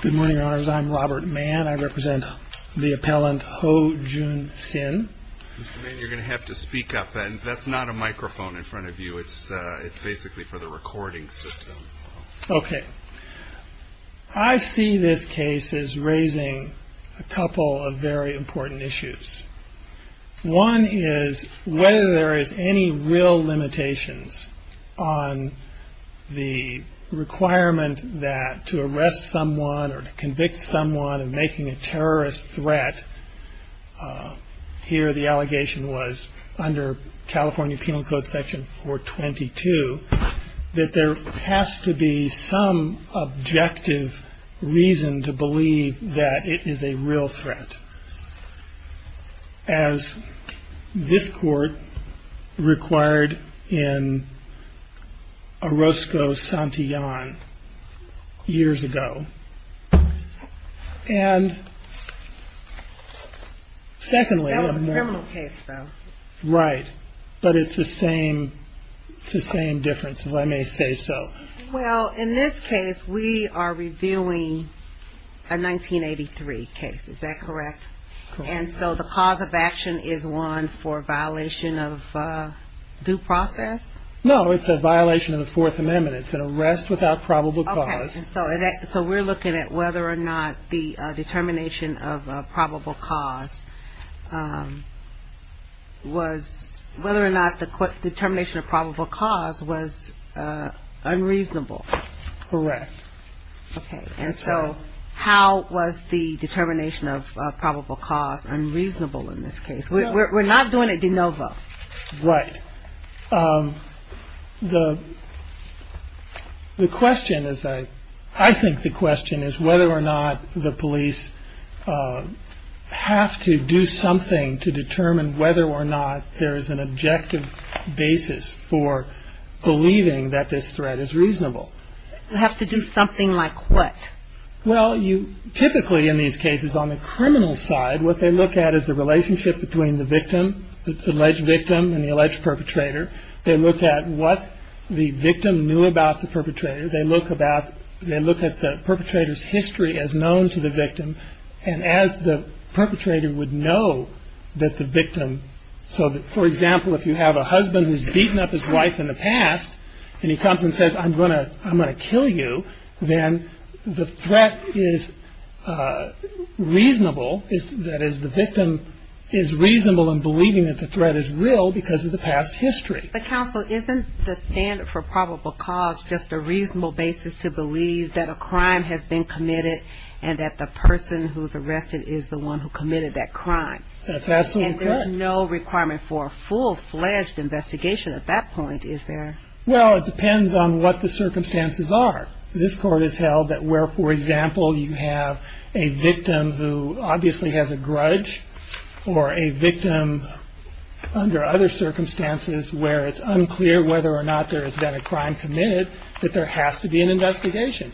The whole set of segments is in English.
Good morning, Your Honors. I'm Robert Mann. I represent the appellant Ho Jun Sin. Mr. Mann, you're going to have to speak up. That's not a microphone in front of you. It's basically for the recording system. Okay. I see this case as raising a couple of very important issues. One is whether there is any real limitations on the requirement that to arrest someone or to convict someone of making a terrorist threat, here the allegation was under California Penal Code Section 422, that there has to be some objective reason to believe that it is a real threat, as this Court required in Orozco-Santillan years ago. And secondly... That was a criminal case, though. Right. But it's the same difference, if I may say so. Well, in this case, we are reviewing a 1983 case. Is that correct? Correct. And so the cause of action is one for violation of due process? No, it's a violation of the Fourth Amendment. It's an arrest without probable cause. And so we're looking at whether or not the determination of probable cause was unreasonable. Correct. Okay. And so how was the determination of probable cause unreasonable in this case? Right. The question is, I think the question is whether or not the police have to do something to determine whether or not there is an objective basis for believing that this threat is reasonable. Have to do something like what? Well, typically in these cases, on the criminal side, what they look at is the relationship between the victim, the alleged victim, and the alleged perpetrator. They look at what the victim knew about the perpetrator. They look at the perpetrator's history as known to the victim, and as the perpetrator would know that the victim... So, for example, if you have a husband who's beaten up his wife in the past, and he comes and says, I'm going to kill you, then the threat is reasonable. That is, the victim is reasonable in believing that the threat is real because of the past history. But counsel, isn't the standard for probable cause just a reasonable basis to believe that a crime has been committed and that the person who's arrested is the one who committed that crime? That's absolutely correct. And there's no requirement for a full-fledged investigation at that point, is there? Well, it depends on what the circumstances are. This court has held that where, for example, you have a victim who obviously has a grudge, or a victim under other circumstances where it's unclear whether or not there has been a crime committed, that there has to be an investigation.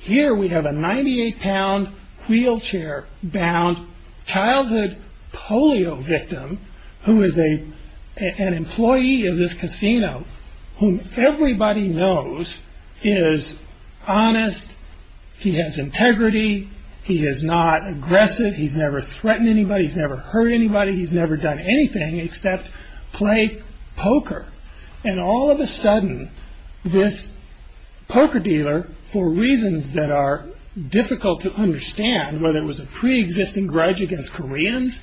Here we have a 98-pound wheelchair-bound childhood polio victim who is an employee of this casino whom everybody knows is honest. He has integrity. He is not aggressive. He's never threatened anybody. He's never hurt anybody. He's never done anything except play poker. And all of a sudden, this poker dealer, for reasons that are difficult to understand, whether it was a preexisting grudge against Koreans,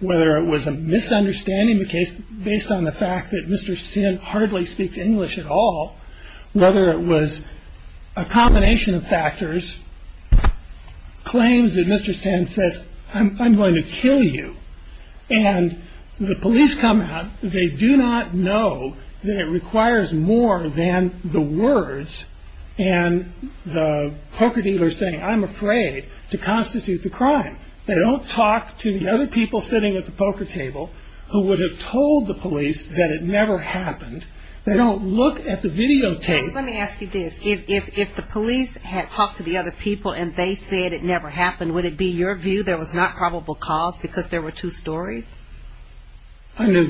whether it was a misunderstanding of the case based on the fact that Mr. Sin hardly speaks English at all, whether it was a combination of factors, claims that Mr. Sin says, I'm going to kill you. And the police come out. They do not know that it requires more than the words. And the poker dealer is saying, I'm afraid to constitute the crime. They don't talk to the other people sitting at the poker table who would have told the police that it never happened. They don't look at the videotape. Let me ask you this. If the police had talked to the other people and they said it never happened, would it be your view there was not probable cause because there were two stories? Under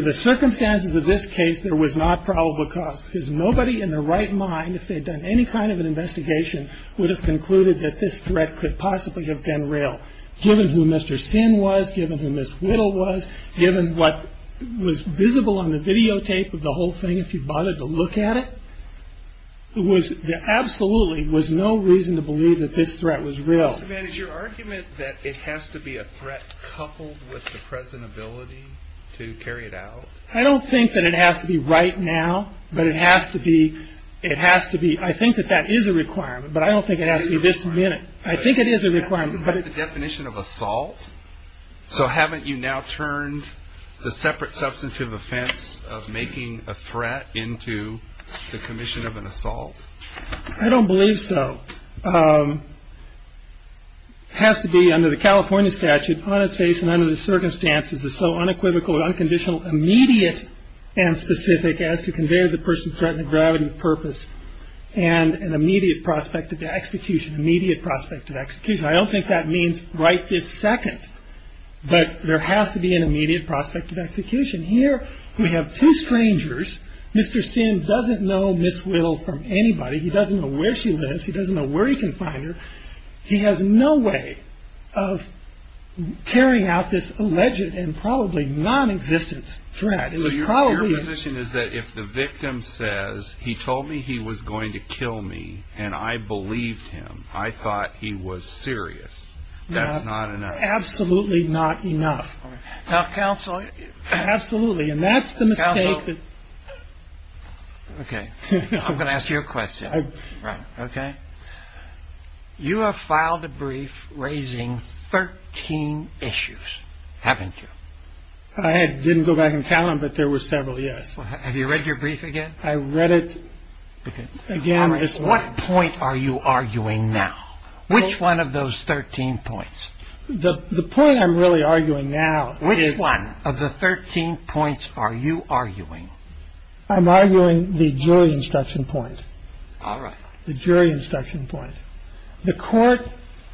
the circumstances of this case, there was not probable cause because nobody in their right mind, if they had done any kind of an investigation, would have concluded that this threat could possibly have been real. Given who Mr. Sin was, given who Ms. Whittle was, given what was visible on the videotape of the whole thing, if you bothered to look at it, there absolutely was no reason to believe that this threat was real. Is your argument that it has to be a threat coupled with the present ability to carry it out? I don't think that it has to be right now, but it has to be. It has to be. I think that that is a requirement, but I don't think it has to be this minute. I think it is a requirement. But isn't that the definition of assault? So haven't you now turned the separate substantive offense of making a threat into the commission of an assault? I don't believe so. It has to be under the California statute on its face and under the circumstances as so unequivocal and unconditional, immediate and specific, as to convey the person's threat and the gravity of purpose and an immediate prospect of execution, immediate prospect of execution. I don't think that means right this second, but there has to be an immediate prospect of execution. Here we have two strangers. Mr. Sin doesn't know Ms. Whittle from anybody. He doesn't know where she lives. He doesn't know where he can find her. He has no way of carrying out this alleged and probably nonexistent threat. It was probably. Your position is that if the victim says he told me he was going to kill me and I believed him, I thought he was serious. That's not enough. Absolutely not enough. Counsel. Absolutely. And that's the mistake. Counsel. Okay. I'm going to ask you a question. Right. Okay. You have filed a brief raising 13 issues, haven't you? I didn't go back and count them, but there were several, yes. Have you read your brief again? I read it again this morning. What point are you arguing now? Which one of those 13 points? The point I'm really arguing now is. Which one of the 13 points are you arguing? I'm arguing the jury instruction point. All right. The jury instruction point. The court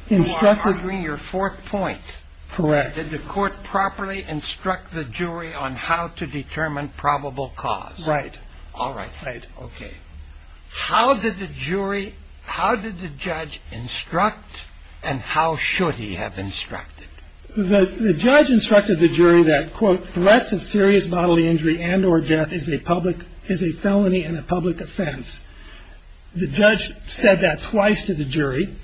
instructed. You're arguing your fourth point. Correct. Did the court properly instruct the jury on how to determine probable cause? Right. All right. Right. Okay. How did the jury, how did the judge instruct and how should he have instructed? The judge instructed the jury that, quote, threats of serious bodily injury and or death is a public, is a felony and a public offense. The judge said that twice to the jury.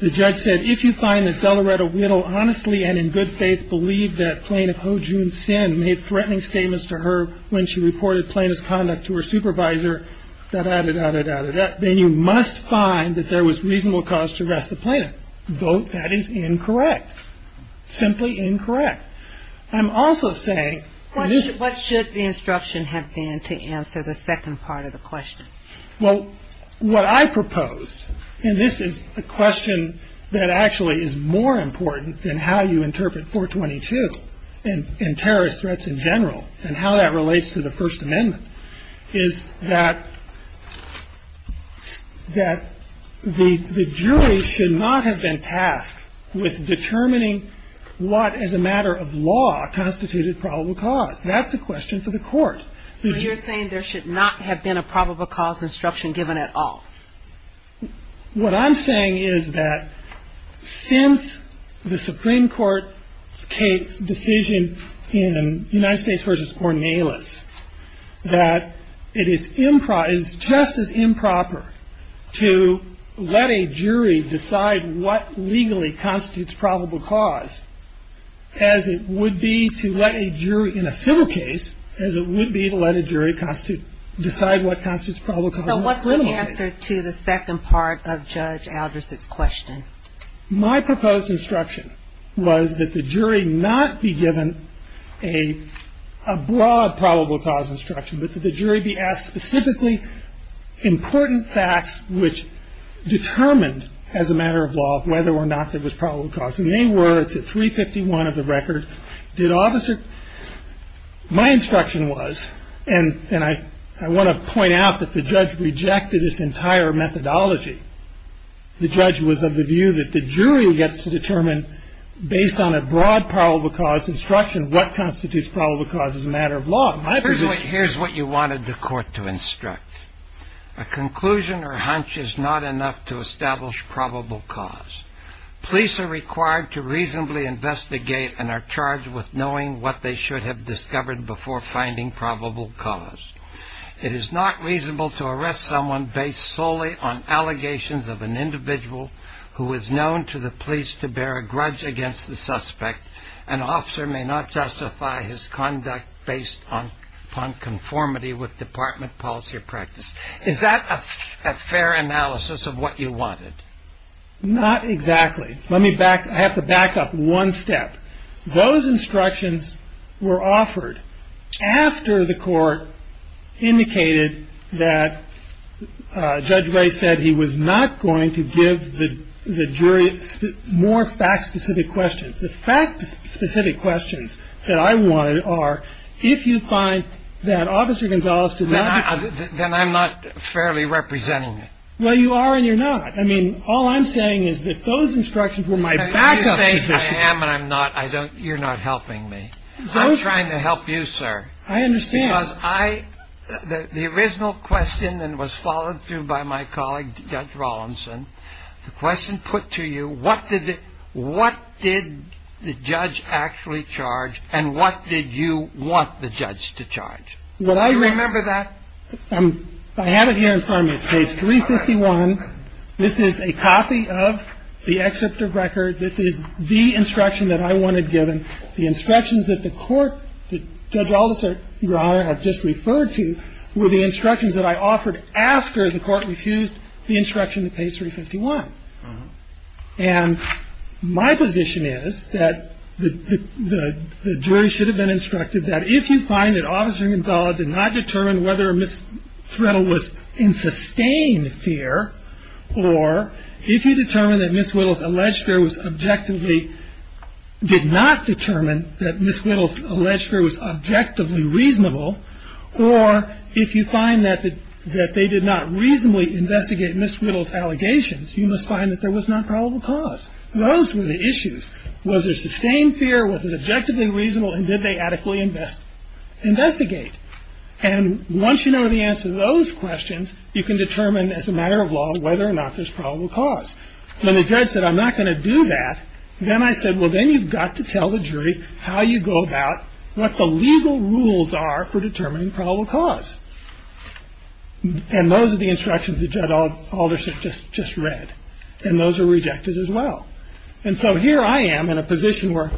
The judge said, if you find that Zelleretta Whittle honestly and in good faith believed that Plaintiff Hojun's sin made threatening statements to her when she reported plaintiff's conduct to her supervisor, da-da-da-da-da-da-da, then you must find that there was reasonable cause to arrest the plaintiff. Though that is incorrect. Simply incorrect. I'm also saying. What should the instruction have been to answer the second part of the question? Well, what I proposed, and this is a question that actually is more important than how you interpret 422 and terrorist threats in general and how that relates to the First Amendment, is that the jury should not have been tasked with determining what as a matter of law constituted probable cause. That's a question for the Court. So you're saying there should not have been a probable cause instruction given at all? What I'm saying is that since the Supreme Court's case decision in United States v. Ornelas, that it is just as improper to let a jury decide what legally constitutes probable cause as it would be to let a jury in a civil case, as it would be to let a jury decide what constitutes probable cause in a civil case. Answer to the second part of Judge Aldris' question. My proposed instruction was that the jury not be given a broad probable cause instruction, but that the jury be asked specifically important facts which determined as a matter of law whether or not there was probable cause. And they were. It's at 351 of the record. My instruction was, and I want to point out that the judge rejected this entire methodology. The judge was of the view that the jury gets to determine based on a broad probable cause instruction what constitutes probable cause as a matter of law. Here's what you wanted the Court to instruct. A conclusion or hunch is not enough to establish probable cause. Police are required to reasonably investigate and are charged with knowing what they should have discovered before finding probable cause. It is not reasonable to arrest someone based solely on allegations of an individual who is known to the police to bear a grudge against the suspect. An officer may not justify his conduct based upon conformity with department policy or practice. Is that a fair analysis of what you wanted? Not exactly. Let me back. I have to back up one step. Those instructions were offered after the Court indicated that Judge Ray said he was not going to give the jury more fact-specific questions. The fact-specific questions that I wanted are, if you find that Officer Gonzales did not. Then I'm not fairly representing it. Well, you are and you're not. I mean, all I'm saying is that those instructions were my backup position. I am and I'm not. You're not helping me. I'm trying to help you, sir. I understand. Because the original question that was followed through by my colleague, Judge Rawlinson, the question put to you, what did the judge actually charge and what did you want the judge to charge? Do you remember that? I have it here in front of me. It's page 351. This is a copy of the excerpt of record. This is the instruction that I wanted given. The instructions that the Court, that Judge Alderson, Your Honor, has just referred to were the instructions that I offered after the Court refused the instruction at page 351. And my position is that the jury should have been instructed that if you find that Ms. Threttle was in sustained fear or if you determine that Ms. Whittle's alleged fear was objectively, did not determine that Ms. Whittle's alleged fear was objectively reasonable, or if you find that they did not reasonably investigate Ms. Whittle's allegations, you must find that there was not probable cause. Those were the issues. Was there sustained fear? Was it objectively reasonable? And did they adequately investigate? And once you know the answer to those questions, you can determine as a matter of law whether or not there's probable cause. When the judge said, I'm not going to do that, then I said, well, then you've got to tell the jury how you go about what the legal rules are for determining probable cause. And those are the instructions that Judge Alderson just read. And those are rejected as well. And so here I am in a position where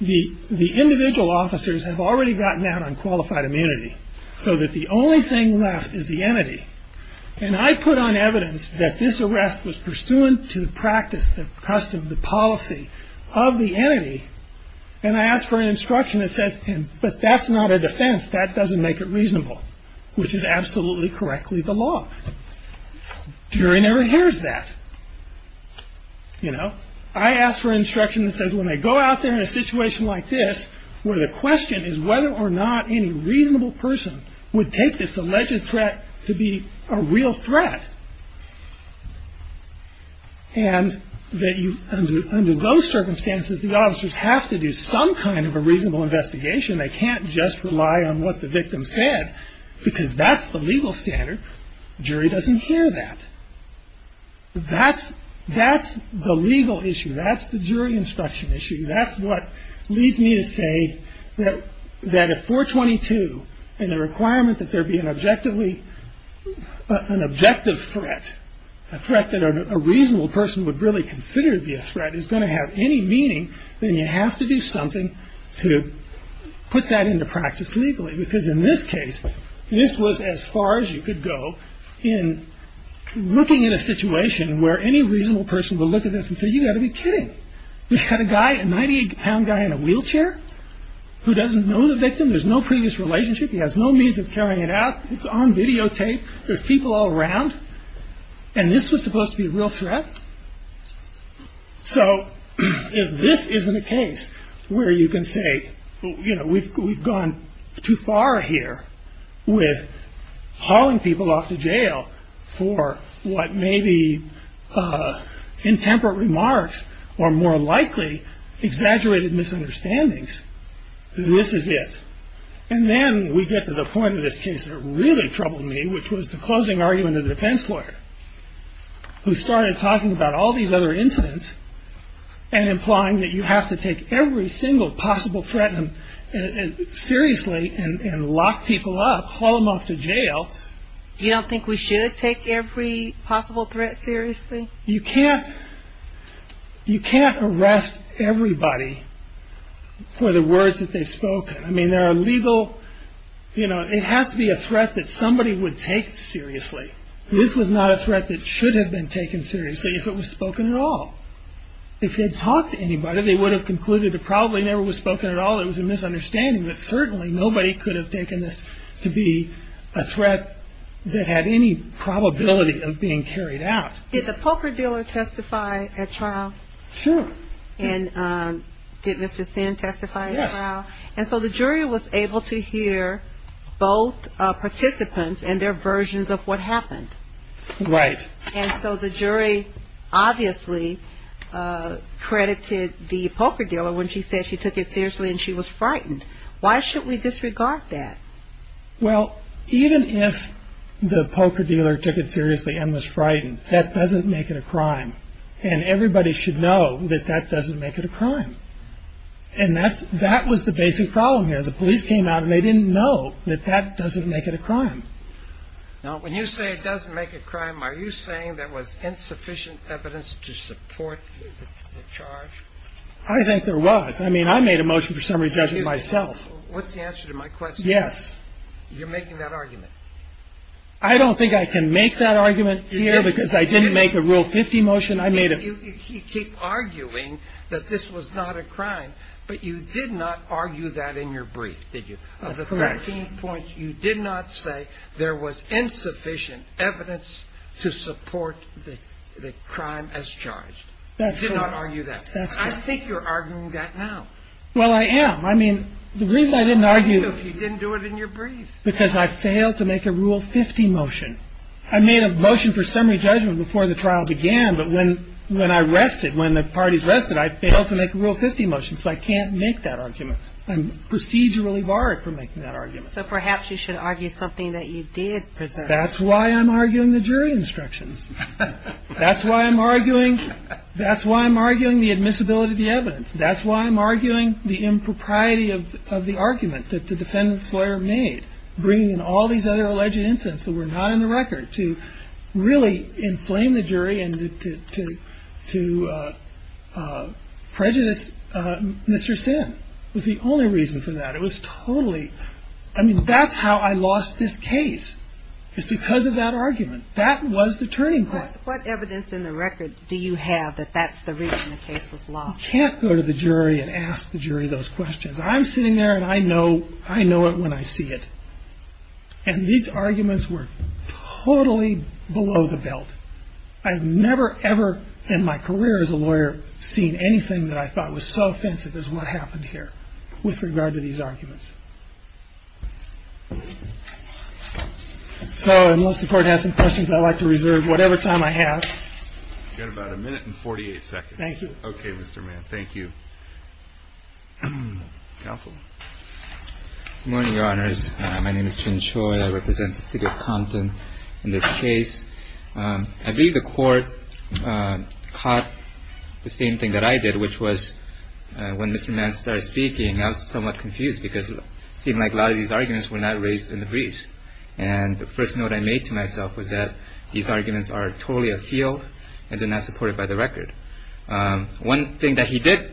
the individual officers have already gotten out on qualified immunity so that the only thing left is the entity. And I put on evidence that this arrest was pursuant to the practice, the custom, the policy of the entity, and I asked for an instruction that says, but that's not a defense. That doesn't make it reasonable, which is absolutely correctly the law. Jury never hears that, you know. I asked for instruction that says when I go out there in a situation like this where the question is whether or not any reasonable person would take this alleged threat to be a real threat and that under those circumstances, the officers have to do some kind of a reasonable investigation. They can't just rely on what the victim said because that's the legal standard. Jury doesn't hear that. That's the legal issue. That's the jury instruction issue. That's what leads me to say that at 422, and the requirement that there be an objective threat, a threat that a reasonable person would really consider to be a threat, is going to have any meaning, then you have to do something to put that into practice legally. Because in this case, this was as far as you could go in looking at a situation where any reasonable person would look at this and say, you've got to be kidding. You've got a guy, a 98-pound guy in a wheelchair who doesn't know the victim. There's no previous relationship. He has no means of carrying it out. It's on videotape. There's people all around. And this was supposed to be a real threat? So if this isn't a case where you can say, you know, we've gone too far here with hauling people off to jail for what may be intemperate remarks or more likely exaggerated misunderstandings, this is it. And then we get to the point of this case that really troubled me, which was the closing argument of the defense lawyer, who started talking about all these other incidents and implying that you have to take every single possible threat seriously and lock people up, haul them off to jail. You don't think we should take every possible threat seriously? You can't arrest everybody for the words that they've spoken. I mean, there are legal, you know, it has to be a threat that somebody would take seriously. This was not a threat that should have been taken seriously if it was spoken at all. If they had talked to anybody, they would have concluded it probably never was spoken at all. It was a misunderstanding that certainly nobody could have taken this to be a threat that had any probability of being carried out. Did the poker dealer testify at trial? Sure. And did Mr. Sin testify at trial? Yes. And so the jury was able to hear both participants and their versions of what happened. Right. And so the jury obviously credited the poker dealer when she said she took it seriously and she was frightened. Why should we disregard that? Well, even if the poker dealer took it seriously and was frightened, that doesn't make it a crime. And everybody should know that that doesn't make it a crime. And that was the basic problem here. The police came out and they didn't know that that doesn't make it a crime. Now, when you say it doesn't make it a crime, are you saying there was insufficient evidence to support the charge? I think there was. I mean, I made a motion for summary judgment myself. What's the answer to my question? Yes. You're making that argument. I don't think I can make that argument here because I didn't make a Rule 50 motion. I made a – You keep arguing that this was not a crime, but you did not argue that in your brief, did you? That's correct. Of the 13 points, you did not say there was insufficient evidence to support the crime as charged. That's correct. You did not argue that. I think you're arguing that now. Well, I am. I mean, the reason I didn't argue – You didn't do it in your brief. Because I failed to make a Rule 50 motion. I made a motion for summary judgment before the trial began, but when I rested, when the parties rested, I failed to make a Rule 50 motion, so I can't make that argument. I'm procedurally barred from making that argument. So perhaps you should argue something that you did present. That's why I'm arguing the jury instructions. That's why I'm arguing – That's why I'm arguing the admissibility of the evidence. That's why I'm arguing the impropriety of the argument that the defendant's lawyer made, bringing in all these other alleged incidents that were not in the record, to really inflame the jury and to prejudice Mr. Sin was the only reason for that. It was totally – I mean, that's how I lost this case, is because of that argument. That was the turning point. What evidence in the record do you have that that's the reason the case was lost? You can't go to the jury and ask the jury those questions. I'm sitting there, and I know it when I see it. And these arguments were totally below the belt. I've never ever in my career as a lawyer seen anything that I thought was so offensive as what happened here with regard to these arguments. So unless the Court has some questions, I'd like to reserve whatever time I have. You've got about a minute and 48 seconds. Thank you. Okay, Mr. Mann. Thank you. Counsel. Good morning, Your Honors. My name is Chin Choi. I represent the City of Compton in this case. I believe the Court caught the same thing that I did, which was when Mr. Mann started speaking, I was somewhat confused, because it seemed like a lot of these arguments were not raised in the briefs. And the first note I made to myself was that these arguments are totally afield and they're not supported by the record. One thing that he did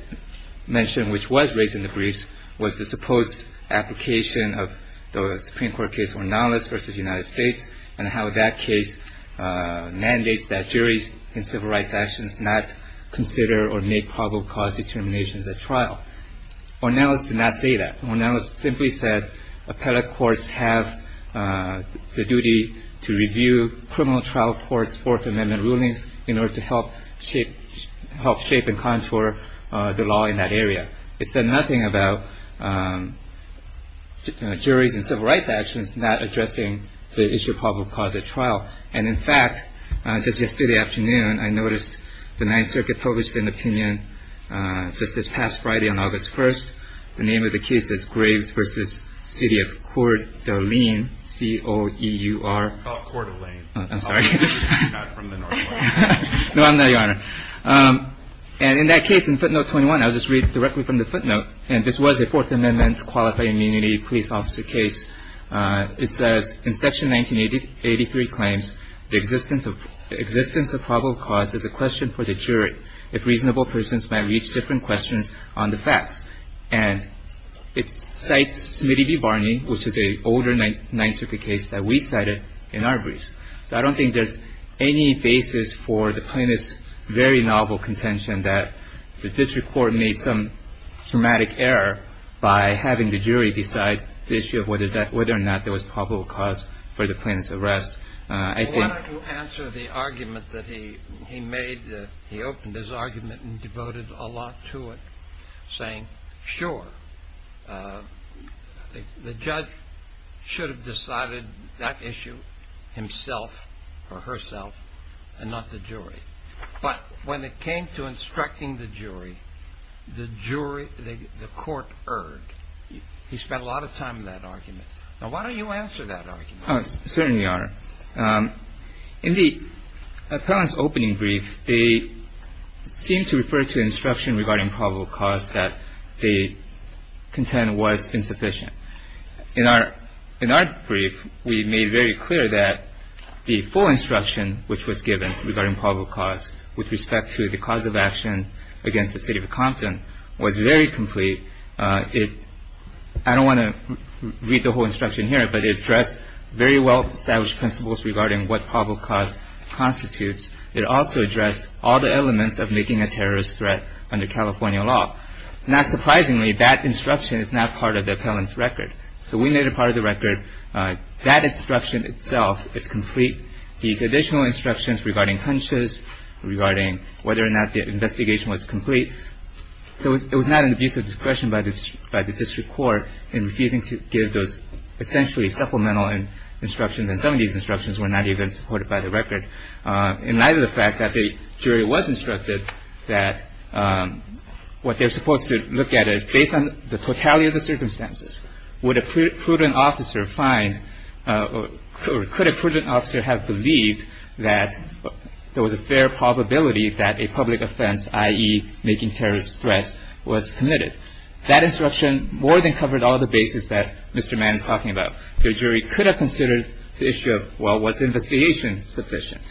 mention, which was raised in the briefs, was the supposed application of the Supreme Court case Ornelas v. United States and how that case mandates that juries in civil rights actions not consider or make probable cause determinations at trial. Ornelas did not say that. Ornelas simply said appellate courts have the duty to review criminal trial courts' Fourth Amendment rulings in order to help shape and contour the law in that area. It said nothing about juries in civil rights actions not addressing the issue of probable cause at trial. And in fact, just yesterday afternoon, I noticed the Ninth Circuit published an opinion just this past Friday on August 1st. The name of the case is Graves v. City of Coeur d'Alene, C-O-E-U-R. Oh, Coeur d'Alene. I'm sorry. I'm not from the northwest. No, I'm not, Your Honor. And in that case, in footnote 21, I'll just read directly from the footnote, and this was a Fourth Amendment qualified immunity police officer case. It says, in Section 1983 claims, the existence of probable cause is a question for the jury, if reasonable persons might reach different questions on the facts. And it cites Smitty v. Varney, which is an older Ninth Circuit case that we cited in our briefs. So I don't think there's any basis for the plaintiff's very novel contention that the district court made some dramatic error by having the jury decide the issue of whether or not there was probable cause for the plaintiff's arrest. I wanted to answer the argument that he made. He opened his argument and devoted a lot to it, saying, sure, the judge should have decided that issue himself or herself and not the jury. But when it came to instructing the jury, the jury, the court erred. He spent a lot of time in that argument. Now, why don't you answer that argument? Certainly, Your Honor. In the appellant's opening brief, they seemed to refer to instruction regarding probable cause that they contend was insufficient. In our brief, we made very clear that the full instruction which was given regarding probable cause with respect to the cause of action against the city of Compton was very complete. I don't want to read the whole instruction here, but it addressed very well-established principles regarding what probable cause constitutes. It also addressed all the elements of making a terrorist threat under California law. Not surprisingly, that instruction is not part of the appellant's record. So we made it part of the record. That instruction itself is complete. These additional instructions regarding hunches, regarding whether or not the investigation was complete, it was not an abuse of discretion by the district court in refusing to give those essentially supplemental instructions. And some of these instructions were not even supported by the record. In light of the fact that the jury was instructed that what they're supposed to look at is based on the totality of the circumstances, would a prudent officer find or could a prudent officer have believed that there was a fair probability that a public offense, i.e., making terrorist threats, was committed? That instruction more than covered all the bases that Mr. Mann is talking about. The jury could have considered the issue of, well, was the investigation sufficient?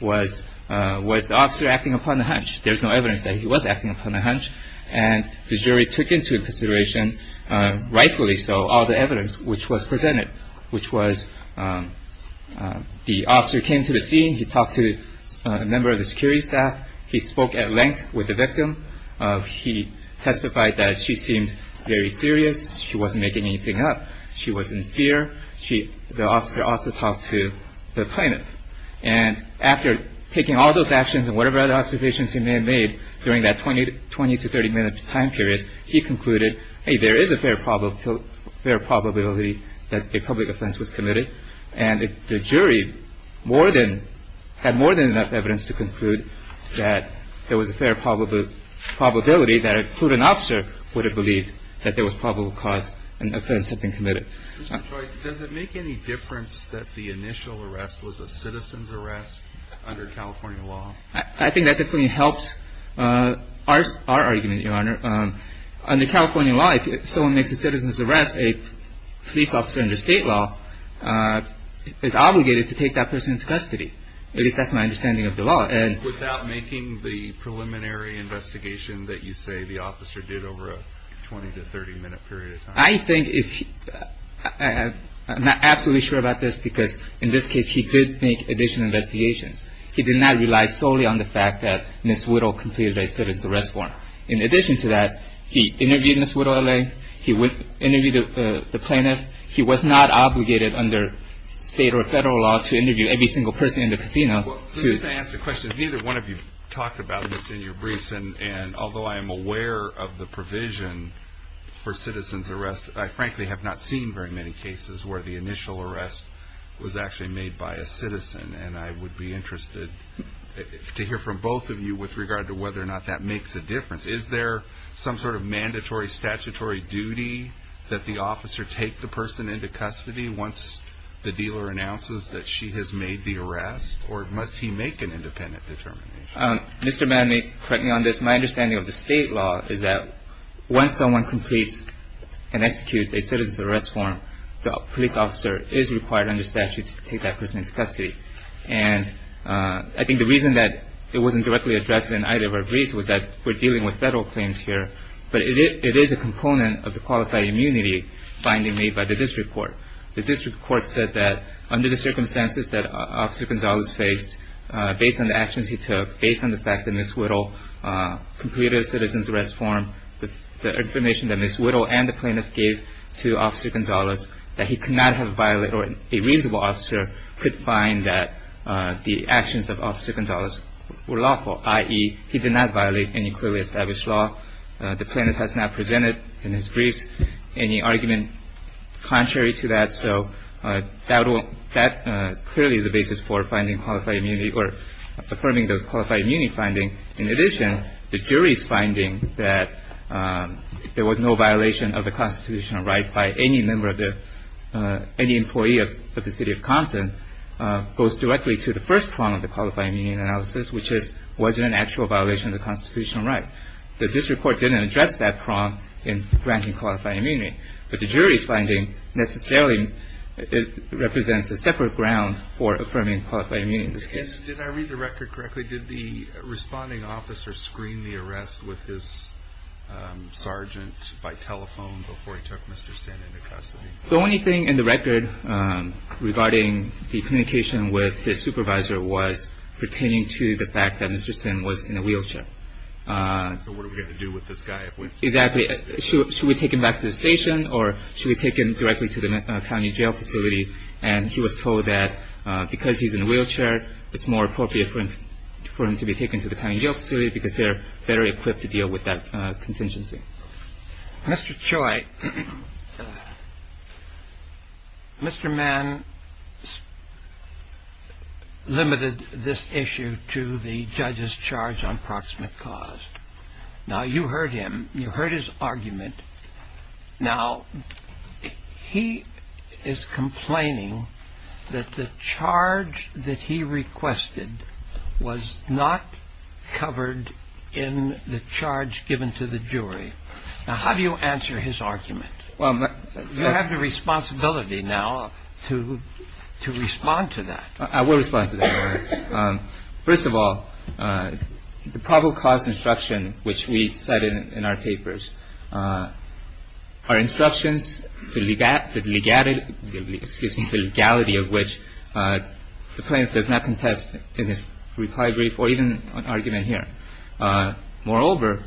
Was the officer acting upon the hunch? There's no evidence that he was acting upon the hunch. And the jury took into consideration, rightfully so, all the evidence which was presented, which was the officer came to the scene. He talked to a member of the security staff. He spoke at length with the victim. He testified that she seemed very serious. She wasn't making anything up. She was in fear. The officer also talked to the plaintiff. And after taking all those actions and whatever other observations he may have made during that 20 to 30-minute time period, he concluded, hey, there is a fair probability that a public offense was committed. And the jury had more than enough evidence to conclude that there was a fair probability that a prudent officer would have believed that there was probable cause an offense had been committed. Mr. Choi, does it make any difference that the initial arrest was a citizen's arrest under California law? I think that definitely helps our argument, Your Honor. Under California law, if someone makes a citizen's arrest, a police officer under state law is obligated to take that person into custody. I guess that's my understanding of the law. Without making the preliminary investigation that you say the officer did over a 20 to 30-minute period of time? I think if he – I'm not absolutely sure about this because in this case he could make additional investigations. He did not rely solely on the fact that Ms. Whittle completed a citizen's arrest warrant. In addition to that, he interviewed Ms. Whittle, LA. He interviewed the plaintiff. He was not obligated under state or federal law to interview every single person in the casino. Let me just ask a question. Neither one of you talked about this in your briefs. And although I am aware of the provision for citizen's arrest, I frankly have not seen very many cases where the initial arrest was actually made by a citizen. And I would be interested to hear from both of you with regard to whether or not that makes a difference. Is there some sort of mandatory statutory duty that the officer take the person into custody once the dealer announces that she has made the arrest? Or must he make an independent determination? Mr. Mann, correct me on this. My understanding of the state law is that once someone completes and executes a citizen's arrest warrant, the police officer is required under statute to take that person into custody. And I think the reason that it wasn't directly addressed in either of our briefs was that we're dealing with federal claims here. But it is a component of the qualified immunity finding made by the district court. The district court said that under the circumstances that Officer Gonzalez faced, based on the actions he took, based on the fact that Ms. Whittle completed a citizen's arrest warrant, based on the information that Ms. Whittle and the plaintiff gave to Officer Gonzalez, that he could not have violated or a reasonable officer could find that the actions of Officer Gonzalez were lawful, i.e., he did not violate any clearly established law. The plaintiff has not presented in his briefs any argument contrary to that. So that clearly is the basis for finding qualified immunity or affirming the qualified immunity finding. In addition, the jury's finding that there was no violation of the constitutional right by any member of the ‑‑ any employee of the city of Compton goes directly to the first prong of the qualified immunity analysis, which is was it an actual violation of the constitutional right. The district court didn't address that prong in granting qualified immunity. But the jury's finding necessarily represents a separate ground for affirming qualified immunity in this case. Did I read the record correctly? Did the responding officer screen the arrest with his sergeant by telephone before he took Mr. Sin into custody? The only thing in the record regarding the communication with his supervisor was pertaining to the fact that Mr. Sin was in a wheelchair. So what are we going to do with this guy? Exactly. Should we take him back to the station or should we take him directly to the county jail facility? And he was told that because he's in a wheelchair, it's more appropriate for him to be taken to the county jail facility because they're better equipped to deal with that contingency. Mr. Choi, Mr. Mann limited this issue to the judge's charge on proximate cause. Now, you heard him. You heard his argument. Now, he is complaining that the charge that he requested was not covered in the charge given to the jury. Now, how do you answer his argument? You have the responsibility now to respond to that. I will respond to that, Your Honor. First of all, the probable cause instruction, which we cited in our papers, our instructions, the legality of which the plaintiff does not contest in his reply brief or even an argument here. Moreover,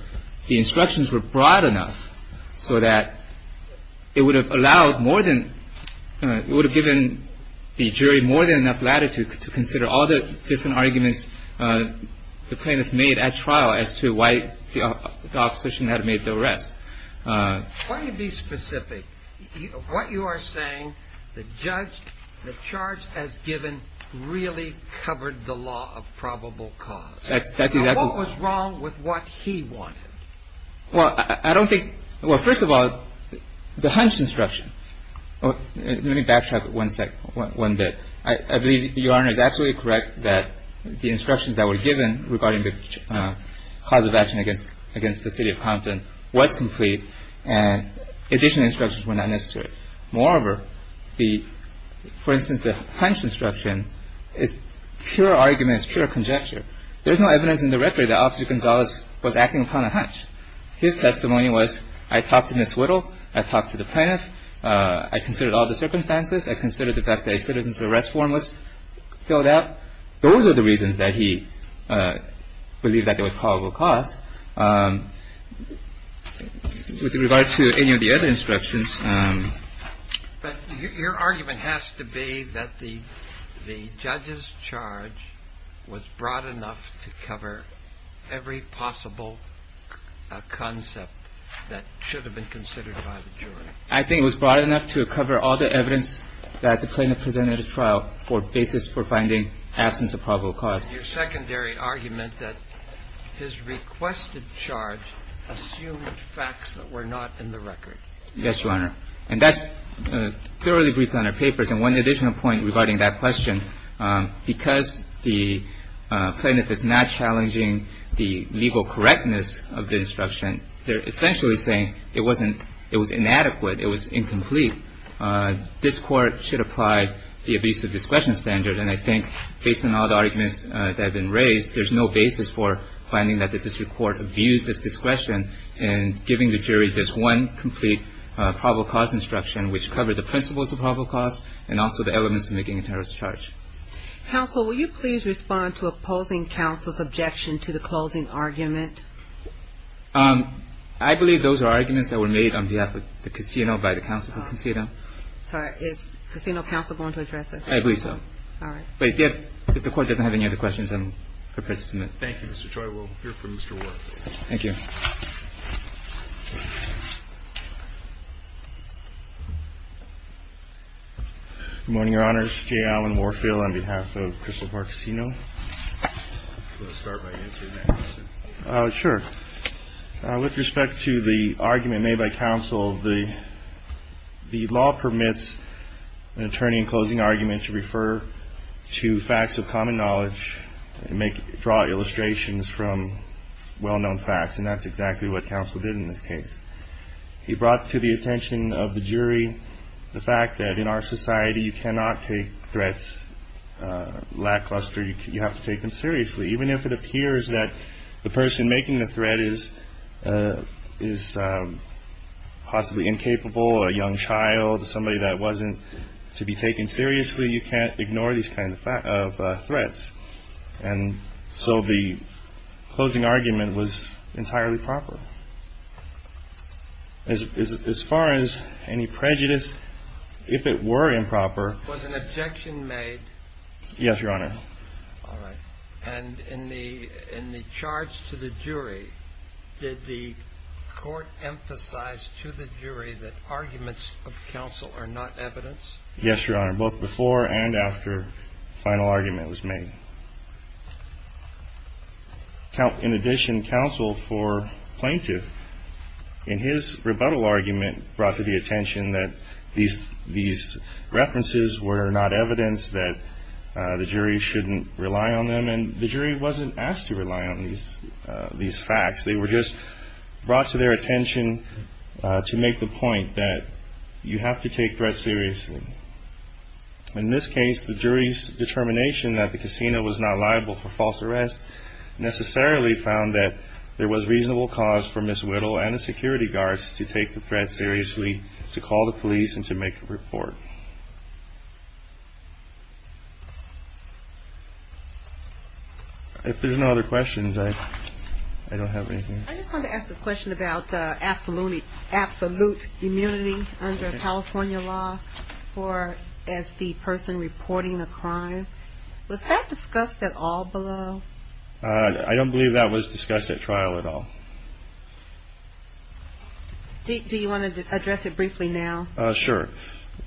the instructions were broad enough so that it would have allowed more than – different arguments the plaintiff made at trial as to why the opposition had made the arrest. Why don't you be specific? What you are saying, the judge, the charge as given, really covered the law of probable cause. That's exactly – So what was wrong with what he wanted? Well, I don't think – well, first of all, the hunch instruction. Let me backtrack one bit. I believe Your Honor is absolutely correct that the instructions that were given regarding the cause of action against the city of Compton was complete, and additional instructions were not necessary. Moreover, the – for instance, the hunch instruction is pure argument. It's pure conjecture. There's no evidence in the record that Officer Gonzalez was acting upon a hunch. His testimony was, I talked to Ms. Whittle. I talked to the plaintiff. I considered all the circumstances. I considered the fact that a citizen's arrest form was filled out. Those are the reasons that he believed that there was probable cause. With regard to any of the other instructions – But your argument has to be that the judge's charge was broad enough to cover every possible concept that should have been considered by the jury. I think it was broad enough to cover all the evidence that the plaintiff presented at a trial for basis for finding absence of probable cause. Your secondary argument that his requested charge assumed facts that were not in the record. Yes, Your Honor. And that's thoroughly briefed on our papers. And one additional point regarding that question, because the plaintiff is not challenging the legal correctness of the instruction, they're essentially saying it wasn't – it was incomplete. This court should apply the abuse of discretion standard. And I think based on all the arguments that have been raised, there's no basis for finding that the district court abused its discretion in giving the jury this one complete probable cause instruction, which covered the principles of probable cause and also the elements of making a terrorist charge. Counsel, will you please respond to opposing counsel's objection to the closing argument? I believe those are arguments that were made on behalf of the casino by the counsel for casino. Sorry. Is casino counsel going to address this? I believe so. All right. But if the court doesn't have any other questions, I'm prepared to submit. Thank you, Mr. Choi. We'll hear from Mr. Warfield. Thank you. Good morning, Your Honors. Jay Allen Warfield on behalf of Crystal Park Casino. I'm going to start by answering that question. Sure. With respect to the argument made by counsel, the law permits an attorney in closing argument to refer to facts of common knowledge and draw illustrations from well-known facts. And that's exactly what counsel did in this case. He brought to the attention of the jury the fact that in our society, you cannot take threats lackluster. You have to take them seriously. Even if it appears that the person making the threat is possibly incapable, a young child, somebody that wasn't to be taken seriously, you can't ignore these kind of threats. And so the closing argument was entirely proper. As far as any prejudice, if it were improper. Was an objection made? Yes, Your Honor. All right. And in the charge to the jury, did the court emphasize to the jury that arguments of counsel are not evidence? Yes, Your Honor, both before and after the final argument was made. In addition, counsel for plaintiff, in his rebuttal argument, brought to the attention that these references were not evidence that the jury shouldn't rely on them. And the jury wasn't asked to rely on these facts. They were just brought to their attention to make the point that you have to take threats seriously. In this case, the jury's determination that the casino was not liable for false arrest necessarily found that there was reasonable cause for Ms. Whittle and the security guards to take the threat seriously, to call the police and to make a report. If there's no other questions, I don't have anything. I just want to ask a question about absolute immunity under California law as the person reporting a crime. Was that discussed at all below? I don't believe that was discussed at trial at all. Do you want to address it briefly now? Sure.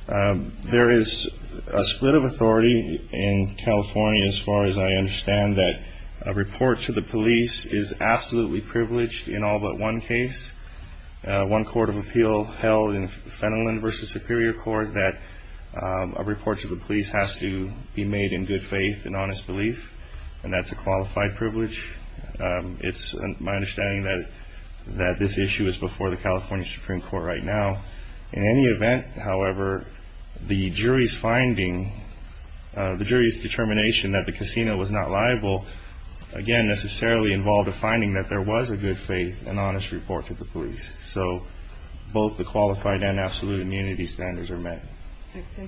There is a split of authority in California, as far as I understand, that a report to the police is absolutely privileged in all but one case. One court of appeal held in Fenelon v. Superior Court that a report to the police has to be made in good faith and honest belief. And that's a qualified privilege. It's my understanding that this issue is before the California Supreme Court right now. In any event, however, the jury's finding, the jury's determination that the casino was not liable, again, necessarily involved a finding that there was a good faith and honest report to the police. So both the qualified and absolute immunity standards are met. Thank you.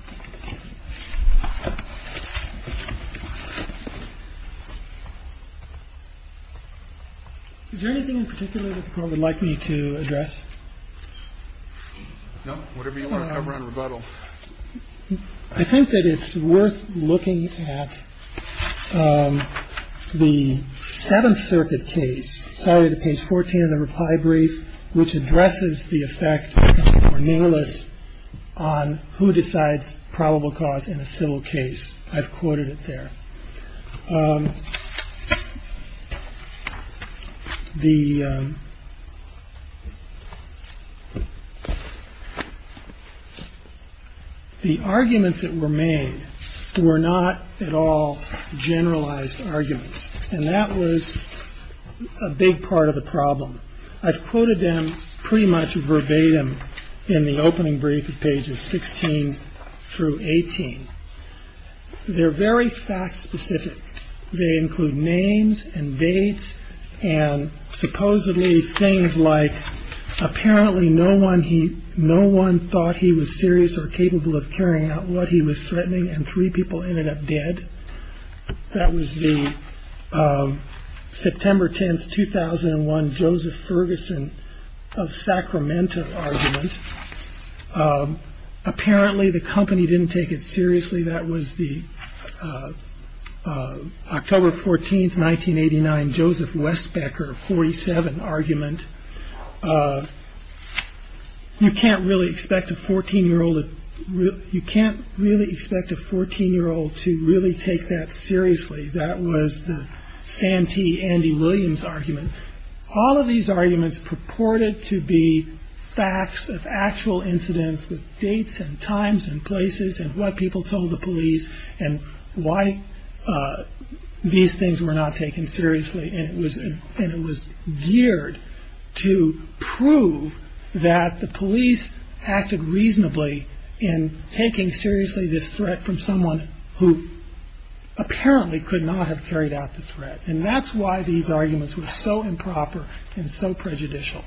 Is there anything in particular that the Court would like me to address? No, whatever you want to cover on rebuttal. I think that it's worth looking at the Seventh Circuit case, cited at page 14 of the reply brief, which addresses the effect of Cornelius on who decides probable cause in a civil case. I've quoted it there. The arguments that were made were not at all generalized arguments, and that was a big part of the problem. I've quoted them pretty much verbatim in the opening brief at pages 16 through 18. They're very fact specific. They include names and dates and supposedly things like apparently no one thought he was serious or capable of carrying out what he was threatening, and three people ended up dead. That was the September 10th, 2001, Joseph Ferguson of Sacramento argument. Apparently the company didn't take it seriously. That was the October 14th, 1989, Joseph Westbecker, 47, argument. You can't really expect a 14-year-old to really take that seriously. That was the Santee, Andy Williams argument. All of these arguments purported to be facts of actual incidents with dates and times and places and what people told the police and why these things were not taken seriously, and it was geared to prove that the police acted reasonably in taking seriously this threat from someone who apparently could not have carried out the threat. And that's why these arguments were so improper and so prejudicial.